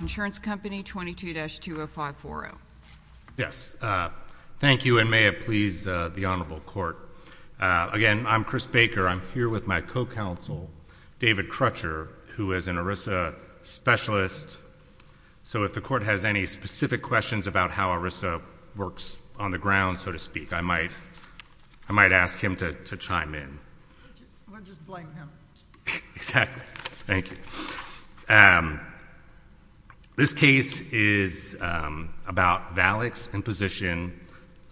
Insurance Company, 22-20540. Yes. Thank you, and may it please the Honorable Court. Again, I'm Chris Baker. I'm here with my co-counsel, David Crutcher, who is an ERISA specialist. So if the Court has any specific questions about how ERISA Thank you. Thank you. Thank you. Thank you. Thank you. Thank you. Thank you. Thank you. Thank you. Thank you. Thank you. might ask him to chime in. I was going to just blame him. Exactly. Thank you. and Family Bankers. It passed a court opinion committee that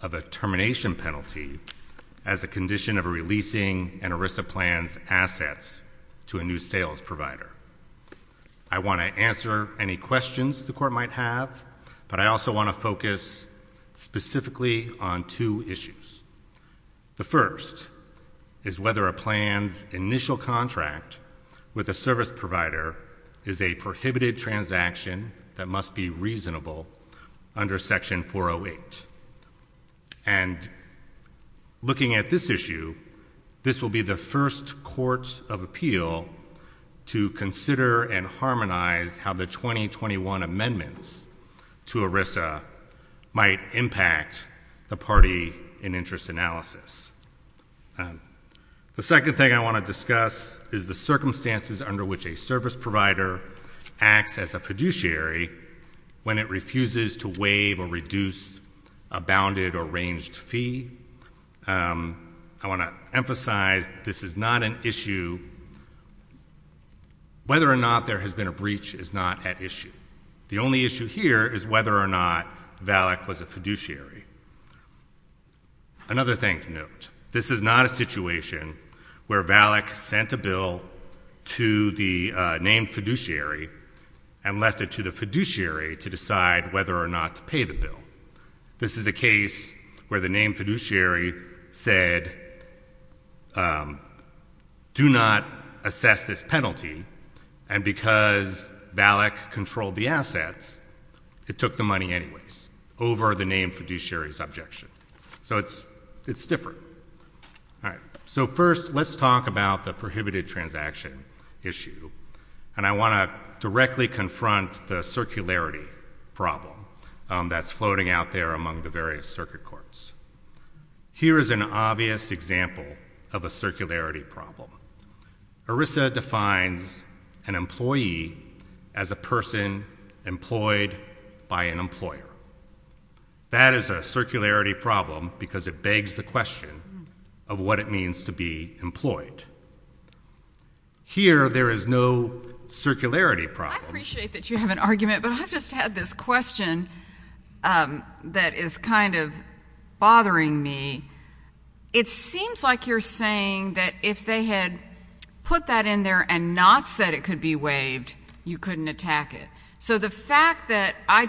what a termination penalty as a condition of releasing an RISA plan's assets to a sales provider. So the bot and재 is a news sales provider. I want to answer any questions the Court might have, but I want to focus specifically on two issues. The first is whether a plan's initial contract with a service provider is a prohibited transaction that must be reasonable under Section 408. And looking at this issue, this will be the first court of appeal to consider and harmonize how the 2021 amendments to Section 408 would impact the party in interest analysis. The second thing I want to discuss is the circumstances under which a service provider acts as a fiduciary when it refuses to waive or reduce a bounded or ranged fee. I want to emphasize this is not an issue. Whether or not there has been a breach is not at issue. The only issue here is whether or not Valak was a fiduciary. Another thing to note, this is not a situation where Valak sent a bill to the named fiduciary and left it to the fiduciary to decide whether or not to pay the bill. This is a case where the named fiduciary said, do not assess this penalty. And because Valak controlled the assets, it took the money anyways over the named fiduciary's objection. So it's different. All right. So first, let's talk about the prohibited transaction issue. And I want to directly confront the circularity problem that's floating out there among the various circuit courts. Here is an obvious example of a circularity problem. ERISA defines an employee as a person employed by an employer. That is a circularity problem because it begs the question of what it means to be employed. Here, there is no circularity problem. I appreciate that you have an argument, but I've just had this question that is kind of bothering me. It seems like you're saying that if they had put that in there and not said it could be waived, you couldn't attack it. So the fact that I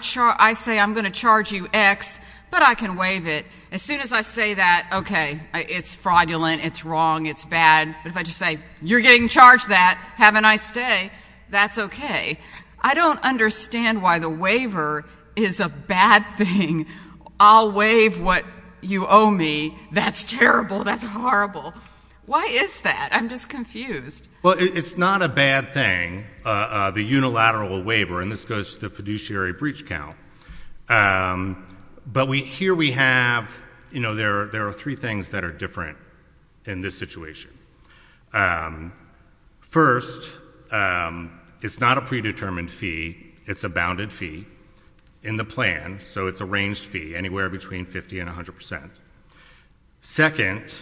say I'm going to charge you X, but I can waive it, as soon as I say that, okay, it's fraudulent, it's wrong, it's bad, but if I just say, you're getting charged that, have a nice day, that's okay. I don't understand why the waiver is a bad thing. I'll waive what you owe me. That's terrible. That's horrible. Why is that? I'm just confused. Well, it's not a bad thing, the unilateral waiver, and this goes to the fiduciary breach count. But here we have, you know, there are three things that are different in this situation. First, it's not a predetermined fee. It's a bounded fee in the plan. So it's a ranged fee, anywhere between 50 and 100%. Second,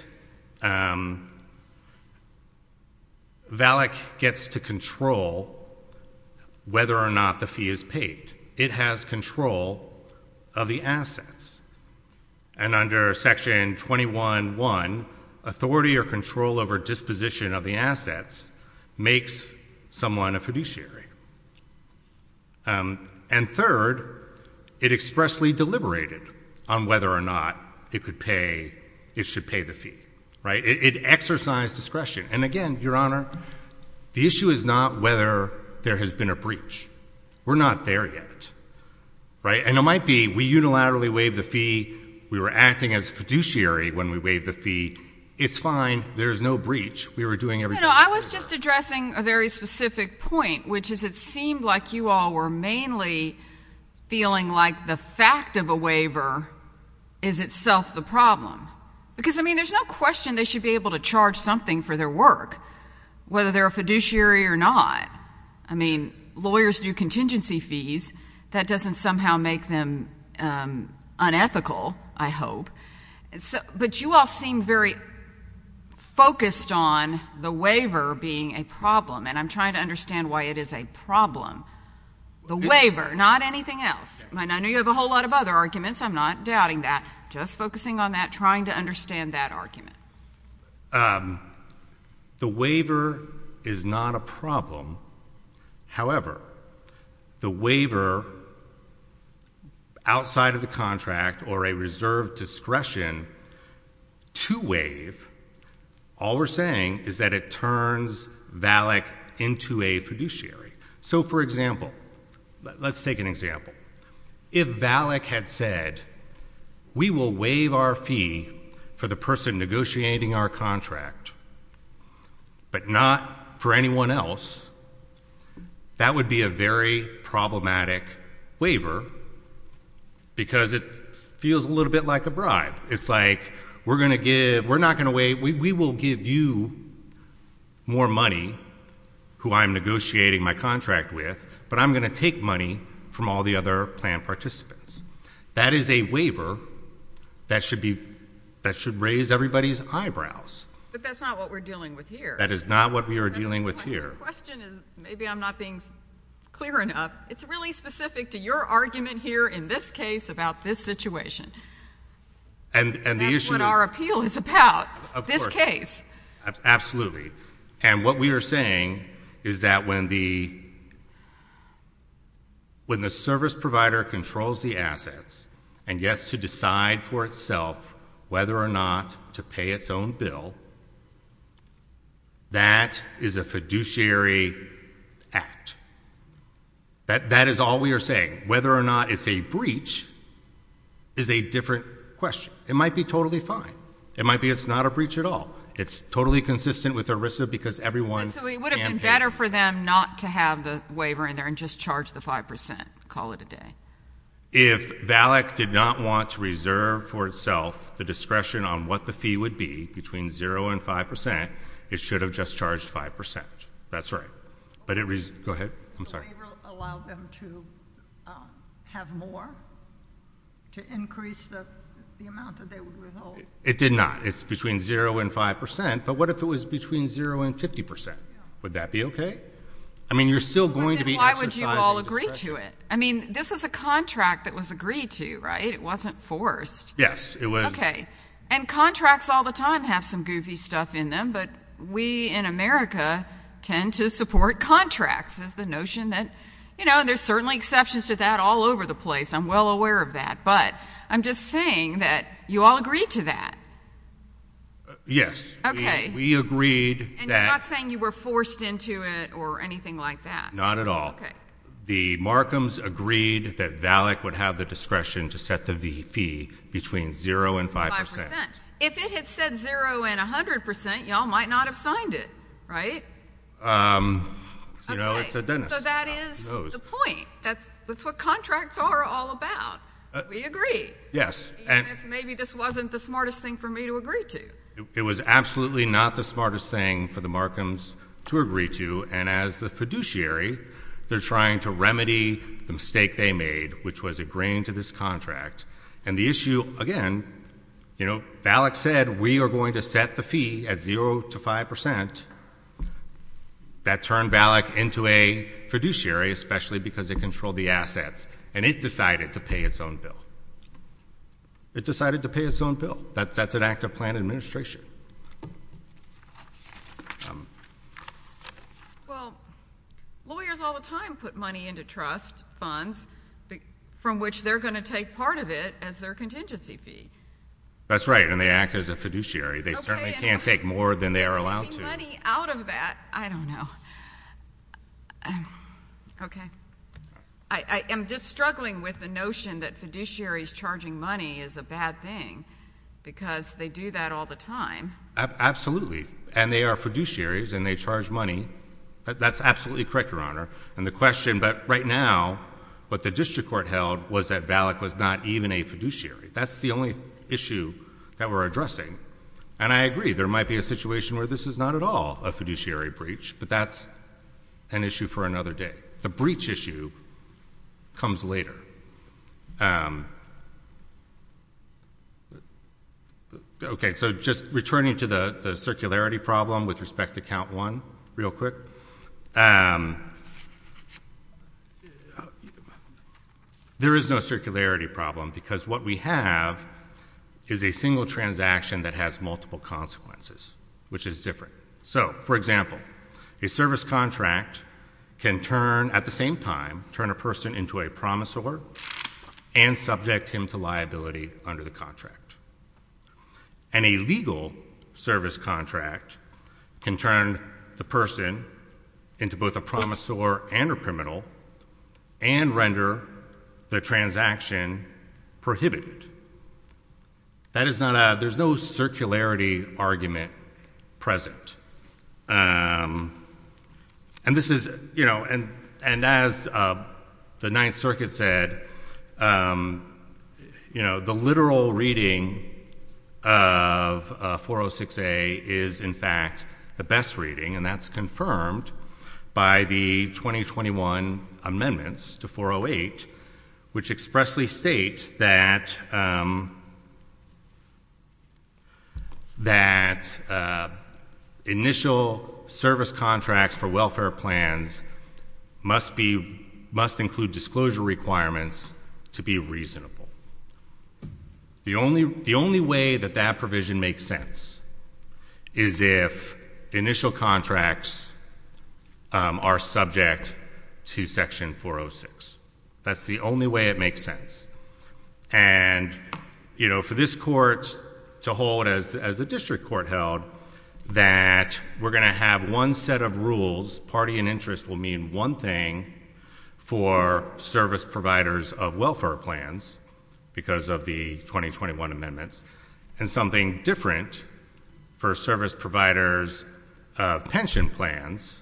VALIC gets to control whether or not the fee is paid. It has control of the assets. And under Section 21.1, authority or control over disposition of the assets makes someone a fiduciary. And third, it expressly deliberated on whether or not it should pay the fee. It exercised discretion. And, again, Your Honor, the issue is not whether there has been a breach. We're not there yet. Right? And it might be we unilaterally waived the fee, we were acting as fiduciary when we waived the fee. It's fine. There's no breach. We were doing everything we could. You know, I was just addressing a very specific point, which is it seemed like you all were mainly feeling like the fact of a waiver is itself the problem. Because, I mean, there's no question they should be able to charge something for their work, whether they're a fiduciary or not. I mean, lawyers do contingency fees. That doesn't somehow make them unethical, I hope. But you all seem very focused on the waiver being a problem. And I'm trying to understand why it is a problem. The waiver, not anything else. I know you have a whole lot of other arguments. I'm not doubting that. Just focusing on that, trying to understand that argument. The waiver is not a problem. However, the waiver, outside of the contract or a reserved discretion to waive, all we're saying is that it turns Valak into a fiduciary. So, for example, let's take an example. If Valak had said, we will waive our fee for the person negotiating our contract, but not for anyone else, that would be a very problematic waiver, because it feels a little bit like a bribe. It's like, we're not going to waive. We will give you more money, who I'm negotiating my contract with, but I'm going to take money from all the other plan participants. That is a waiver that should raise everybody's eyebrows. But that's not what we're dealing with here. That is not what we are dealing with here. The question is, maybe I'm not being clear enough, it's really specific to your argument here in this case about this situation. That's what our appeal is about, this case. Absolutely. And what we are saying is that when the service provider controls the assets and gets to decide for itself whether or not to pay its own bill, that is a fiduciary act. That is all we are saying. Whether or not it's a breach is a different question. It might be totally fine. It might be it's not a breach at all. It's totally consistent with ERISA because everyone can't pay. So it would have been better for them not to have the waiver in there and just charge the 5%, call it a day. If VALIC did not want to reserve for itself the discretion on what the fee would be, between zero and 5%, it should have just charged 5%. That's right. Go ahead. I'm sorry. Did the waiver allow them to have more, to increase the amount that they would withhold? It did not. It's between zero and 5%. But what if it was between zero and 50%? Would that be okay? I mean, you're still going to be exercising discretion. Why would you all agree to it? I mean, this was a contract that was agreed to, right? It wasn't forced. Yes, it was. Okay. And contracts all the time have some goofy stuff in them, but we in America tend to support contracts as the notion that, you know, there's certainly exceptions to that all over the place. I'm well aware of that. But I'm just saying that you all agreed to that. Yes. Okay. We agreed that. And you're not saying you were forced into it or anything like that? Not at all. Okay. The Markhams agreed that VALIC would have the discretion to set the fee between zero and 5%. If it had said zero and 100%, you all might not have signed it, right? You know, it's a dentist. So that is the point. That's what contracts are all about. We agree. Yes. Even if maybe this wasn't the smartest thing for me to agree to. It was absolutely not the smartest thing for the Markhams to agree to. And as the fiduciary, they're trying to remedy the mistake they made, which was agreeing to this contract. And the issue, again, you know, VALIC said we are going to set the fee at zero to 5%. That turned VALIC into a fiduciary, especially because it controlled the assets, and it decided to pay its own bill. It decided to pay its own bill. That's an act of planned administration. Well, lawyers all the time put money into trust funds from which they're going to take part of it as their contingency fee. That's right, and they act as a fiduciary. They certainly can't take more than they are allowed to. Okay, and taking money out of that, I don't know. Okay. I am just struggling with the notion that fiduciaries charging money is a bad thing because they do that all the time. Absolutely, and they are fiduciaries, and they charge money. That's absolutely correct, Your Honor. And the question, but right now what the district court held was that VALIC was not even a fiduciary. That's the only issue that we're addressing. And I agree, there might be a situation where this is not at all a fiduciary breach, but that's an issue for another day. The breach issue comes later. Okay, so just returning to the circularity problem with respect to Count 1 real quick, there is no circularity problem because what we have is a single transaction that has multiple consequences, which is different. So, for example, a service contract can turn, at the same time, turn a person into a promisor and subject him to liability under the contract. And a legal service contract can turn the person into both a promisor and a criminal and render the transaction prohibited. There's no circularity argument present. And this is, you know, and as the Ninth Circuit said, you know, the literal reading of 406A is, in fact, the best reading, and that's confirmed by the 2021 amendments to 408, which expressly state that initial service contracts for welfare plans must include disclosure requirements to be reasonable. The only way that that provision makes sense is if initial contracts are subject to Section 406. That's the only way it makes sense. And, you know, for this court to hold, as the district court held, that we're going to have one set of rules, party and interest will mean one thing for service providers of welfare plans because of the 2021 amendments, and something different for service providers of pension plans,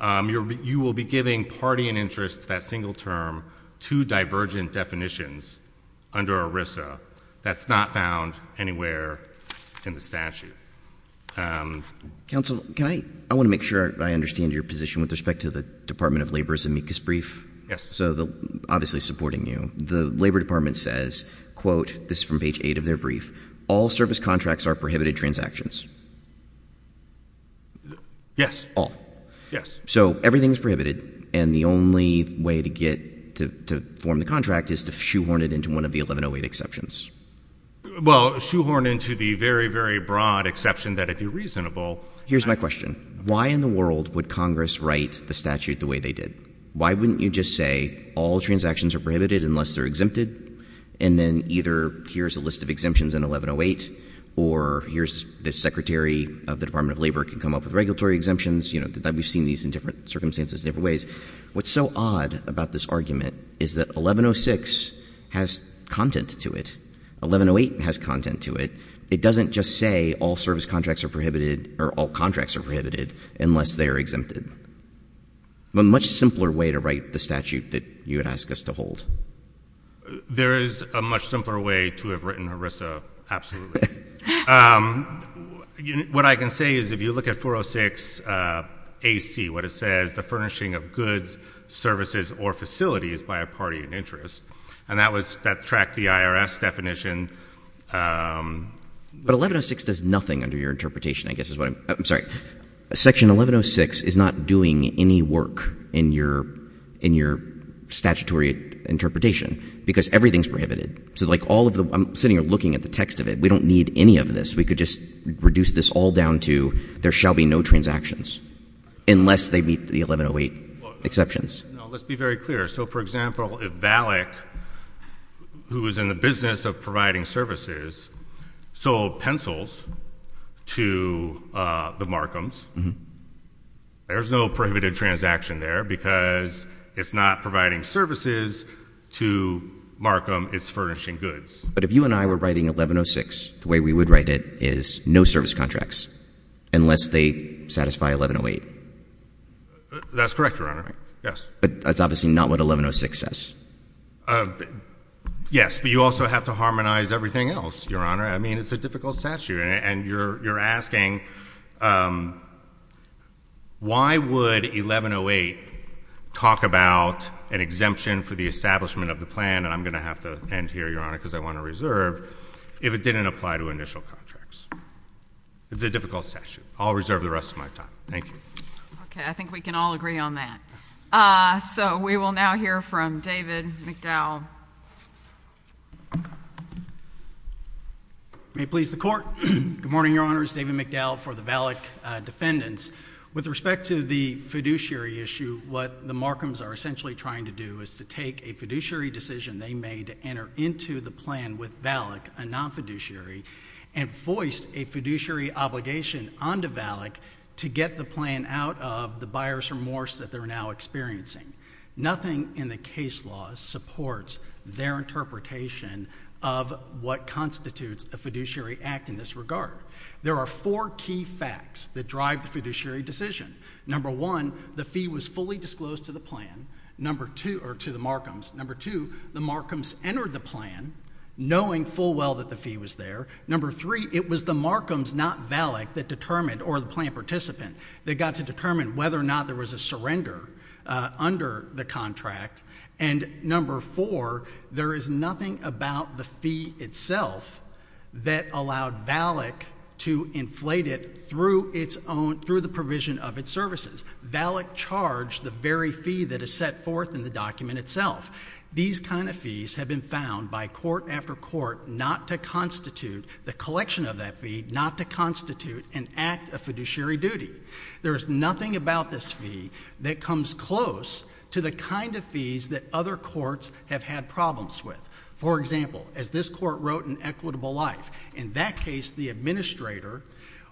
you will be giving party and interest to that single term two divergent definitions under ERISA. That's not found anywhere in the statute. Counsel, I want to make sure I understand your position with respect to the Department of Labor's amicus brief. Yes. So they're obviously supporting you. The Labor Department says, quote, this is from page 8 of their brief, all service contracts are prohibited transactions. Yes. All. Yes. So everything is prohibited, and the only way to get to form the contract is to shoehorn it into one of the 1108 exceptions. Well, shoehorn into the very, very broad exception that it be reasonable. Here's my question. Why in the world would Congress write the statute the way they did? Why wouldn't you just say all transactions are prohibited unless they're exempted, and then either here's a list of exemptions in 1108, or here's the secretary of the Department of Labor can come up with regulatory exemptions. We've seen these in different circumstances in different ways. What's so odd about this argument is that 1106 has content to it. 1108 has content to it. It doesn't just say all service contracts are prohibited or all contracts are prohibited unless they are exempted. A much simpler way to write the statute that you would ask us to hold. There is a much simpler way to have written ERISA, absolutely. What I can say is if you look at 406 AC, what it says, the furnishing of goods, services, or facilities by a party in interest, and that tracked the IRS definition. But 1106 does nothing under your interpretation, I guess is what I'm saying. Section 1106 is not doing any work in your statutory interpretation because everything is prohibited. So like all of the — I'm sitting here looking at the text of it. We don't need any of this. We could just reduce this all down to there shall be no transactions unless they meet the 1108 exceptions. Let's be very clear. So, for example, if Valek, who is in the business of providing services, sold pencils to the Markhams, there's no prohibited transaction there because it's not providing services to Markham. It's furnishing goods. But if you and I were writing 1106, the way we would write it is no service contracts unless they satisfy 1108. That's correct, Your Honor. Yes. But that's obviously not what 1106 says. Yes. But you also have to harmonize everything else, Your Honor. I mean, it's a difficult statute. And you're asking why would 1108 talk about an exemption for the establishment of the plan, and I'm going to have to end here, Your Honor, because I want to reserve, if it didn't apply to initial contracts. It's a difficult statute. I'll reserve the rest of my time. Thank you. Okay. I think we can all agree on that. So we will now hear from David McDowell. May it please the Court. Good morning, Your Honors. David McDowell for the Valek defendants. With respect to the fiduciary issue, what the Markhams are essentially trying to do is to take a fiduciary decision they made to enter into the plan with Valek, a non-fiduciary, and voiced a fiduciary obligation onto Valek to get the plan out of the buyer's remorse that they're now experiencing. Nothing in the case law supports their interpretation of what constitutes a fiduciary act in this regard. There are four key facts that drive the fiduciary decision. Number one, the fee was fully disclosed to the Markhams. Number two, the Markhams entered the plan knowing full well that the fee was there. Number three, it was the Markhams, not Valek, that determined, or the plan participant, that got to determine whether or not there was a surrender under the contract. And number four, there is nothing about the fee itself that allowed Valek to inflate it through the provision of its services. Valek charged the very fee that is set forth in the document itself. These kind of fees have been found by court after court not to constitute the collection of that fee, not to constitute an act of fiduciary duty. There is nothing about this fee that comes close to the kind of fees that other courts have had problems with. For example, as this court wrote in Equitable Life, in that case the administrator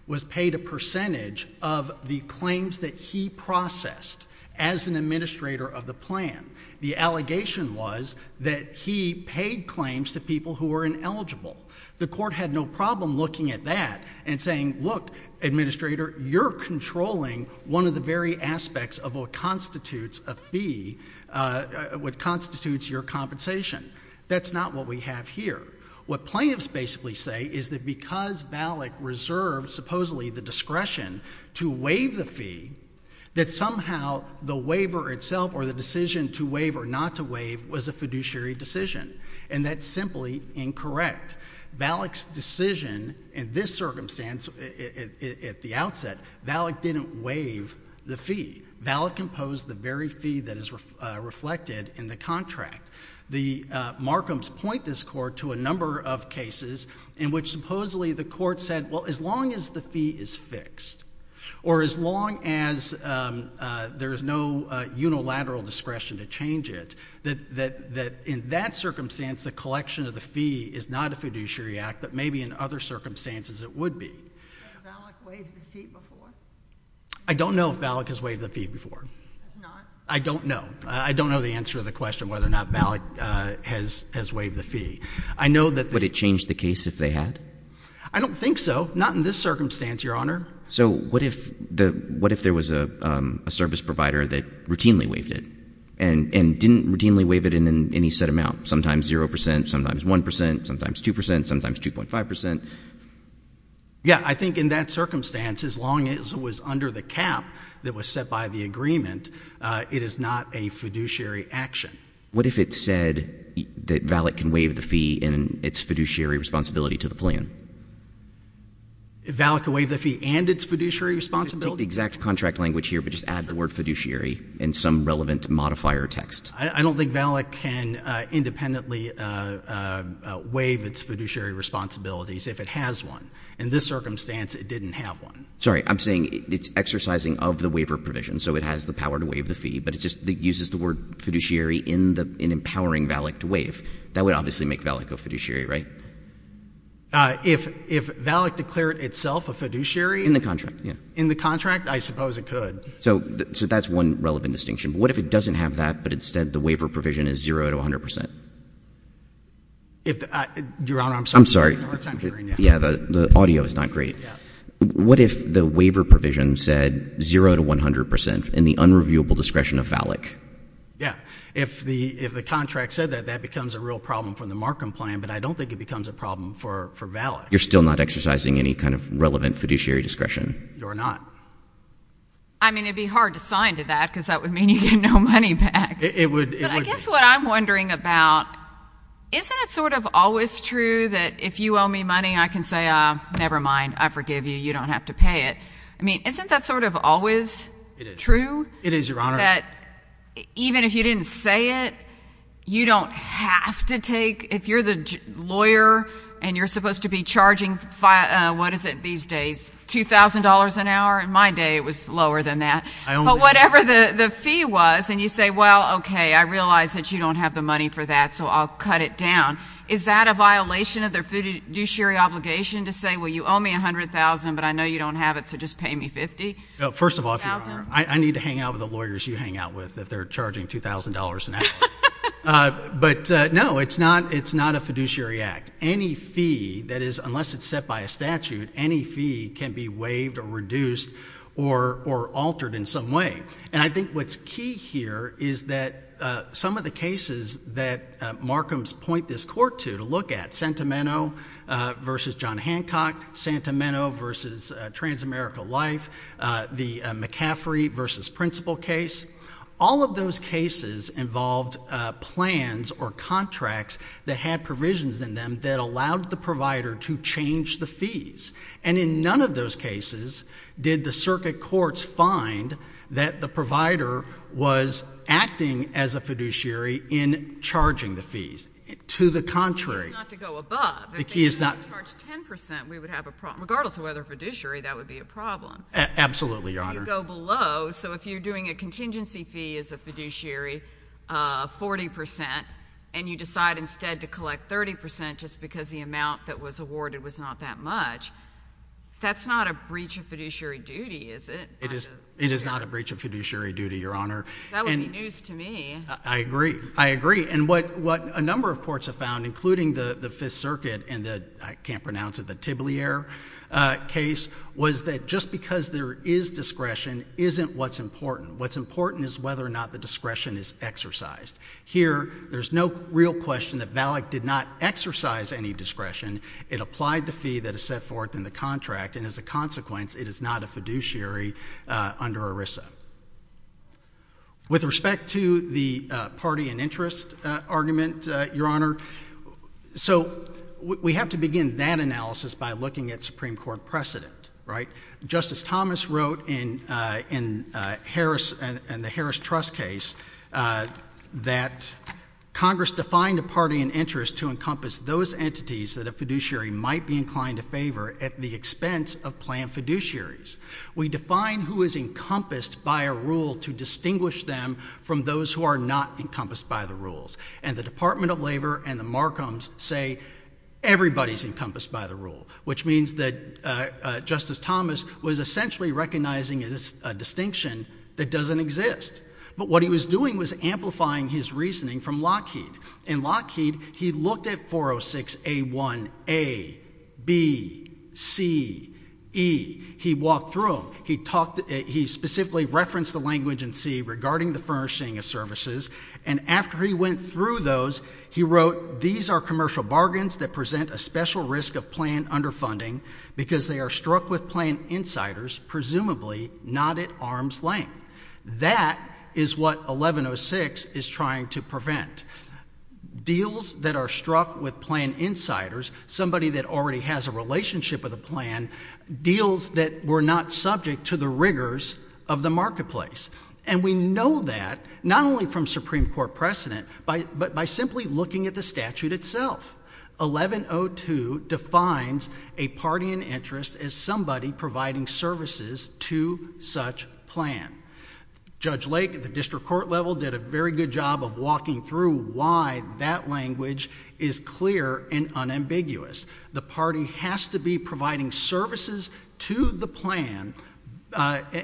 was paid a percentage of the claims that he processed as an administrator of the plan. The allegation was that he paid claims to people who were ineligible. The court had no problem looking at that and saying, look, administrator, you're controlling one of the very aspects of what constitutes a fee, what constitutes your compensation. That's not what we have here. What plaintiffs basically say is that because Valek reserved supposedly the discretion to waive the fee, that somehow the waiver itself or the decision to waive or not to waive was a fiduciary decision, and that's simply incorrect. Valek's decision in this circumstance at the outset, Valek didn't waive the fee. Valek imposed the very fee that is reflected in the contract. The Markhams point this court to a number of cases in which supposedly the court said, well, as long as the fee is fixed or as long as there is no unilateral discretion to change it, that in that circumstance the collection of the fee is not a fiduciary act, but maybe in other circumstances it would be. Has Valek waived the fee before? I don't know if Valek has waived the fee before. He has not? I don't know. I don't know the answer to the question whether or not Valek has waived the fee. Would it change the case if they had? I don't think so. Not in this circumstance, Your Honor. So what if there was a service provider that routinely waived it and didn't routinely waive it in any set amount, sometimes 0 percent, sometimes 1 percent, sometimes 2 percent, sometimes 2.5 percent? Yeah. I think in that circumstance, as long as it was under the cap that was set by the agreement, it is not a fiduciary action. What if it said that Valek can waive the fee and its fiduciary responsibility to the plan? Valek can waive the fee and its fiduciary responsibility? Take the exact contract language here, but just add the word fiduciary and some relevant modifier text. I don't think Valek can independently waive its fiduciary responsibilities if it has one. In this circumstance, it didn't have one. Sorry. I'm saying it's exercising of the waiver provision, so it has the power to waive the fee, but it just uses the word fiduciary in empowering Valek to waive. That would obviously make Valek a fiduciary, right? If Valek declared itself a fiduciary? In the contract, yeah. In the contract, I suppose it could. So that's one relevant distinction. What if it doesn't have that, but instead the waiver provision is zero to 100 percent? Your Honor, I'm sorry. I'm sorry. The audio is not great. What if the waiver provision said zero to 100 percent and the unreviewable discretion of Valek? Yeah. If the contract said that, that becomes a real problem for the Markham plan, but I don't think it becomes a problem for Valek. You're still not exercising any kind of relevant fiduciary discretion? You're not. I mean, it would be hard to sign to that because that would mean you get no money back. But I guess what I'm wondering about, isn't it sort of always true that if you owe me money I can say, never mind, I forgive you, you don't have to pay it? I mean, isn't that sort of always true? It is, Your Honor. That even if you didn't say it, you don't have to take, if you're the lawyer and you're supposed to be charging, what is it these days, $2,000 an hour? In my day it was lower than that. But whatever the fee was and you say, well, okay, I realize that you don't have the money for that so I'll cut it down, is that a violation of their fiduciary obligation to say, well, you owe me $100,000, but I know you don't have it so just pay me $50,000? First of all, Your Honor, I need to hang out with the lawyers you hang out with if they're charging $2,000 an hour. But, no, it's not a fiduciary act. Any fee that is, unless it's set by a statute, any fee can be waived or reduced or altered in some way. And I think what's key here is that some of the cases that Markhams point this court to, to look at, Santameno v. John Hancock, Santameno v. Transamerica Life, the McCaffrey v. Principal case, all of those cases involved plans or contracts that had provisions in them that allowed the provider to change the fees. And in none of those cases did the circuit courts find that the provider was acting as a fiduciary in charging the fees. To the contrary. The key is not to go above. The key is not. If they charge 10%, we would have a problem. Regardless of whether it's a fiduciary, that would be a problem. Absolutely, Your Honor. You go below. So if you're doing a contingency fee as a fiduciary, 40%, and you decide instead to collect 30% just because the amount that was awarded was not that much, that's not a breach of fiduciary duty, is it? It is not a breach of fiduciary duty, Your Honor. That would be news to me. I agree. I agree. And what a number of courts have found, including the Fifth Circuit and the, I can't pronounce it, the Tibblier case, was that just because there is discretion isn't what's important. What's important is whether or not the discretion is exercised. Here, there's no real question that VALIC did not exercise any discretion. It applied the fee that is set forth in the contract, and as a consequence, it is not a fiduciary under ERISA. With respect to the party and interest argument, Your Honor, so we have to begin that analysis by looking at Supreme Court precedent, right? Justice Thomas wrote in the Harris Trust case that Congress defined a party and interest to encompass those entities that a fiduciary might be inclined to favor at the expense of planned fiduciaries. We define who is encompassed by a rule to distinguish them from those who are not encompassed by the rules, and the Department of Labor and the Markhams say everybody is encompassed by the rule, which means that Justice Thomas was essentially recognizing a distinction that doesn't exist. But what he was doing was amplifying his reasoning from Lockheed. In Lockheed, he looked at 406A1A, B, C, E. He walked through them. He specifically referenced the language in C regarding the furnishing of services, and after he went through those, he wrote, These are commercial bargains that present a special risk of planned underfunding because they are struck with planned insiders, presumably not at arm's length. That is what 1106 is trying to prevent, deals that are struck with planned insiders, somebody that already has a relationship with a plan, deals that were not subject to the rigors of the marketplace. And we know that not only from Supreme Court precedent, but by simply looking at the statute itself. 1102 defines a party in interest as somebody providing services to such plan. Judge Lake at the district court level did a very good job of walking through why that language is clear and unambiguous. The party has to be providing services to the plan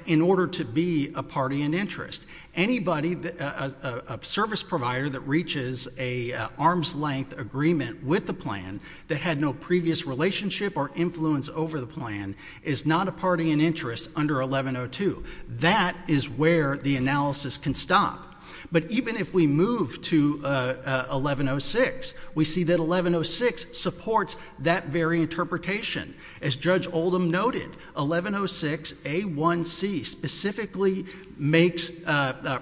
in order to be a party in interest. Anybody, a service provider that reaches an arm's length agreement with the plan that had no previous relationship or influence over the plan is not a party in interest under 1102. That is where the analysis can stop. But even if we move to 1106, we see that 1106 supports that very interpretation. As Judge Oldham noted, 1106A1C specifically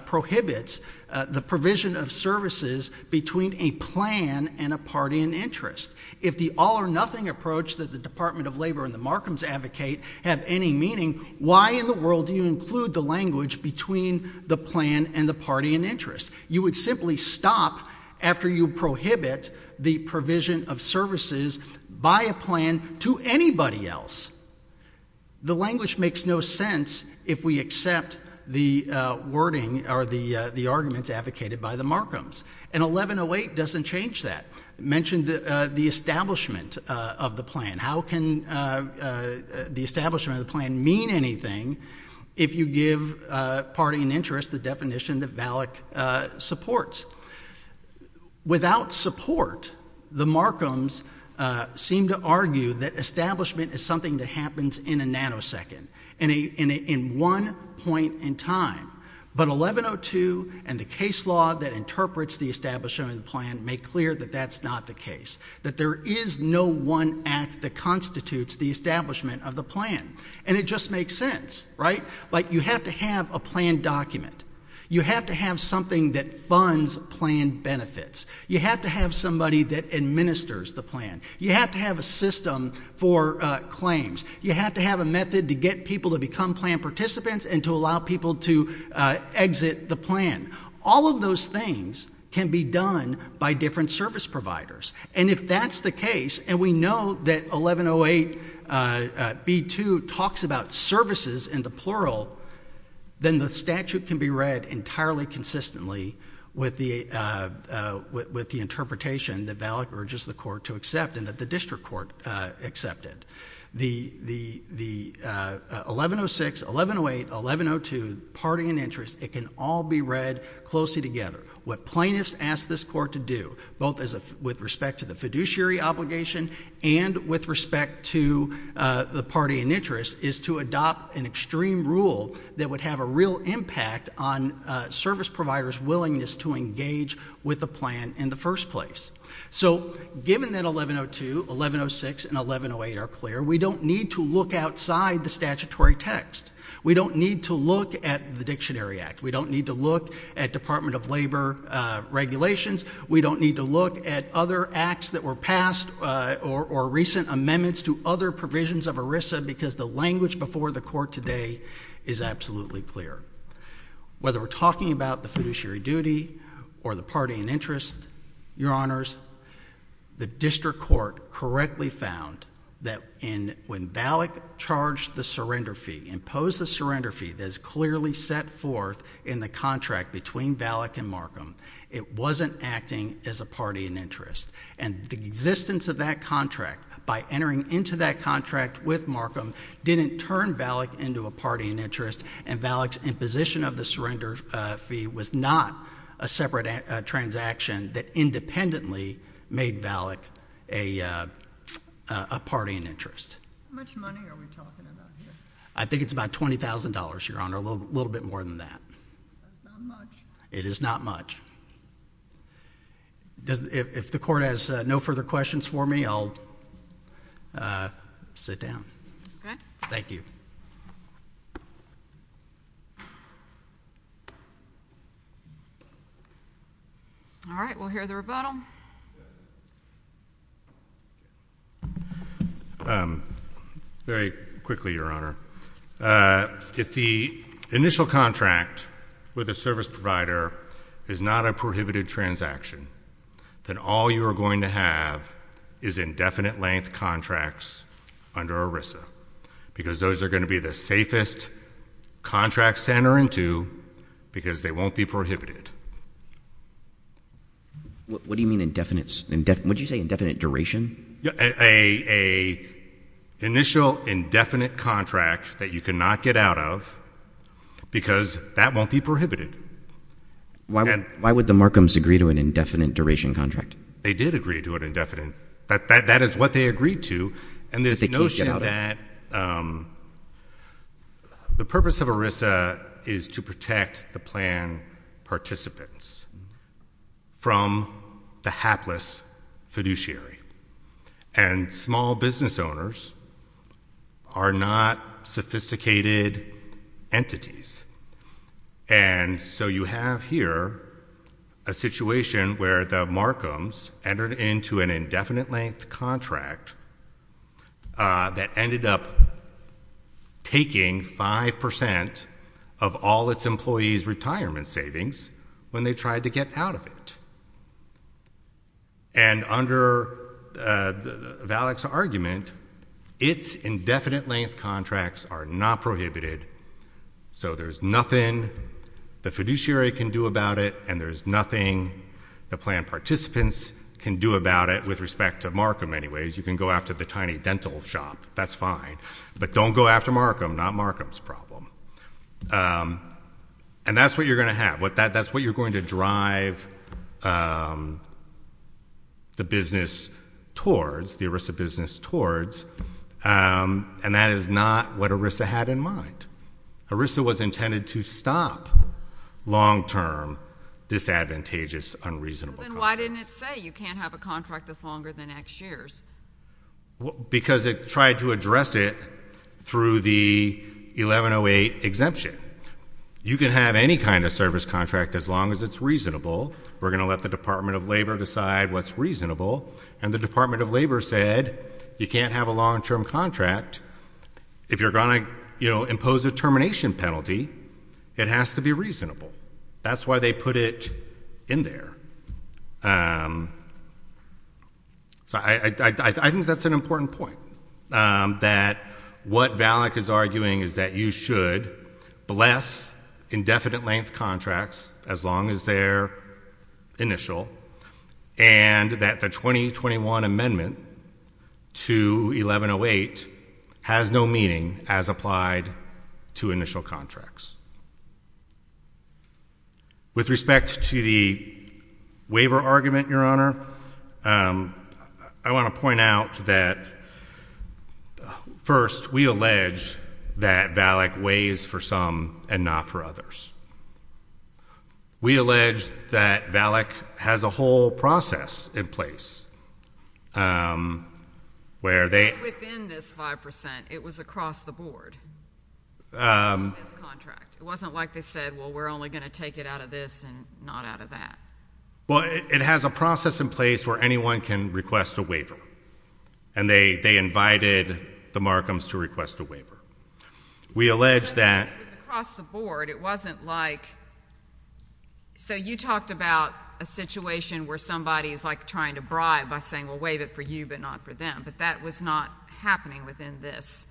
prohibits the provision of services between a plan and a party in interest. If the all-or-nothing approach that the Department of Labor and the Markhams advocate have any meaning, why in the world do you include the language between the plan and the party in interest? You would simply stop after you prohibit the provision of services by a plan to anybody else. The language makes no sense if we accept the wording or the arguments advocated by the Markhams. And 1108 doesn't change that. It mentioned the establishment of the plan. How can the establishment of the plan mean anything if you give party in interest the definition that Valak supports? Without support, the Markhams seem to argue that establishment is something that happens in a nanosecond, in one point in time. But 1102 and the case law that interprets the establishment of the plan make clear that that's not the case, that there is no one act that constitutes the establishment of the plan. And it just makes sense, right? Like you have to have a plan document. You have to have something that funds plan benefits. You have to have somebody that administers the plan. You have to have a system for claims. You have to have a method to get people to become plan participants and to allow people to exit the plan. All of those things can be done by different service providers. And if that's the case, and we know that 1108B2 talks about services in the plural, then the statute can be read entirely consistently with the interpretation that Valak urges the court to accept and that the district court accepted. The 1106, 1108, 1102 party in interest, it can all be read closely together. What plaintiffs ask this court to do, both with respect to the fiduciary obligation and with respect to the party in interest, is to adopt an extreme rule that would have a real impact on service providers' willingness to engage with the plan in the first place. So given that 1102, 1106, and 1108 are clear, we don't need to look outside the statutory text. We don't need to look at the Dictionary Act. We don't need to look at Department of Labor regulations. We don't need to look at other acts that were passed or recent amendments to other provisions of ERISA because the language before the court today is absolutely clear. Whether we're talking about the fiduciary duty or the party in interest, Your Honors, the district court correctly found that when Valak charged the surrender fee, imposed the surrender fee that is clearly set forth in the contract between Valak and Markham, it wasn't acting as a party in interest. And the existence of that contract by entering into that contract with Markham didn't turn Valak into a party in interest, and Valak's imposition of the surrender fee was not a separate transaction that independently made Valak a party in interest. How much money are we talking about here? I think it's about $20,000, Your Honor, a little bit more than that. That's not much. It is not much. If the court has no further questions for me, I'll sit down. Okay. Thank you. All right, we'll hear the rebuttal. Very quickly, Your Honor. If the initial contract with a service provider is not a prohibited transaction, then all you are going to have is indefinite length contracts under ERISA because those are going to be the safest contracts to enter into because they won't be prohibited. What do you mean indefinite? What did you say, indefinite duration? An initial indefinite contract that you cannot get out of because that won't be prohibited. Why would the Markhams agree to an indefinite duration contract? They did agree to an indefinite. That is what they agreed to. And there's a notion that the purpose of ERISA is to protect the plan participants from the hapless fiduciary. And small business owners are not sophisticated entities. And so you have here a situation where the Markhams entered into an indefinite length contract that ended up taking 5% of all its employees' retirement savings when they tried to get out of it. And under Valak's argument, its indefinite length contracts are not prohibited, so there's nothing the fiduciary can do about it and there's nothing the plan participants can do about it with respect to Markham anyways. You can go after the tiny dental shop. That's fine. But don't go after Markham. Not Markham's problem. And that's what you're going to have. That's what you're going to drive the business towards, the ERISA business towards, and that is not what ERISA had in mind. ERISA was intended to stop long-term, disadvantageous, unreasonable contracts. Then why didn't it say you can't have a contract that's longer than X years? Because it tried to address it through the 1108 exemption. You can have any kind of service contract as long as it's reasonable. We're going to let the Department of Labor decide what's reasonable. And the Department of Labor said you can't have a long-term contract if you're going to impose a termination penalty. It has to be reasonable. That's why they put it in there. So I think that's an important point, that what Valak is arguing is that you should bless indefinite length contracts as long as they're initial and that the 2021 amendment to 1108 has no meaning as applied to initial contracts. With respect to the waiver argument, Your Honor, I want to point out that, first, we allege that Valak weighs for some and not for others. We allege that Valak has a whole process in place. Within this 5%, it was across the board. It wasn't like they said, well, we're only going to take it out of this and not out of that. Well, it has a process in place where anyone can request a waiver. And they invited the Markhams to request a waiver. We allege that- It was across the board. It wasn't like- So you talked about a situation where somebody is trying to bribe by saying, well, waive it for you but not for them. But that was not happening within this.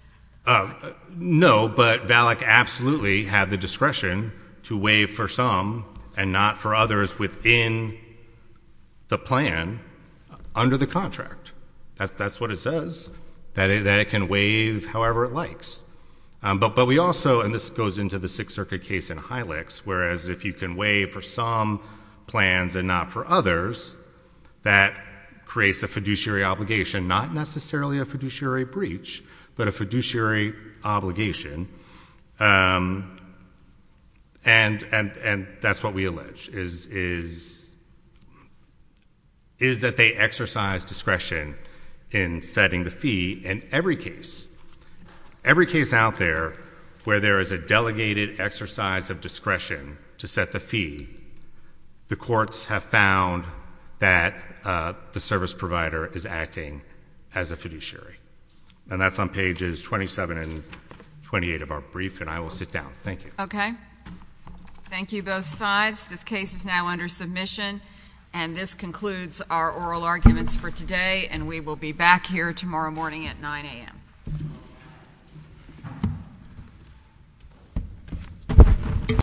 No, but Valak absolutely had the discretion to waive for some and not for others within the plan under the contract. That's what it says, that it can waive however it likes. But we also, and this goes into the Sixth Circuit case in Hylix, whereas if you can waive for some plans and not for others, that creates a fiduciary obligation, not necessarily a fiduciary breach, but a fiduciary obligation. And that's what we allege, is that they exercise discretion in setting the fee in every case. Every case out there where there is a delegated exercise of discretion to set the fee, the courts have found that the service provider is acting as a fiduciary. And that's on pages 27 and 28 of our brief, and I will sit down. Thank you. Okay. Thank you, both sides. This case is now under submission, and this concludes our oral arguments for today, and we will be back here tomorrow morning at 9 a.m.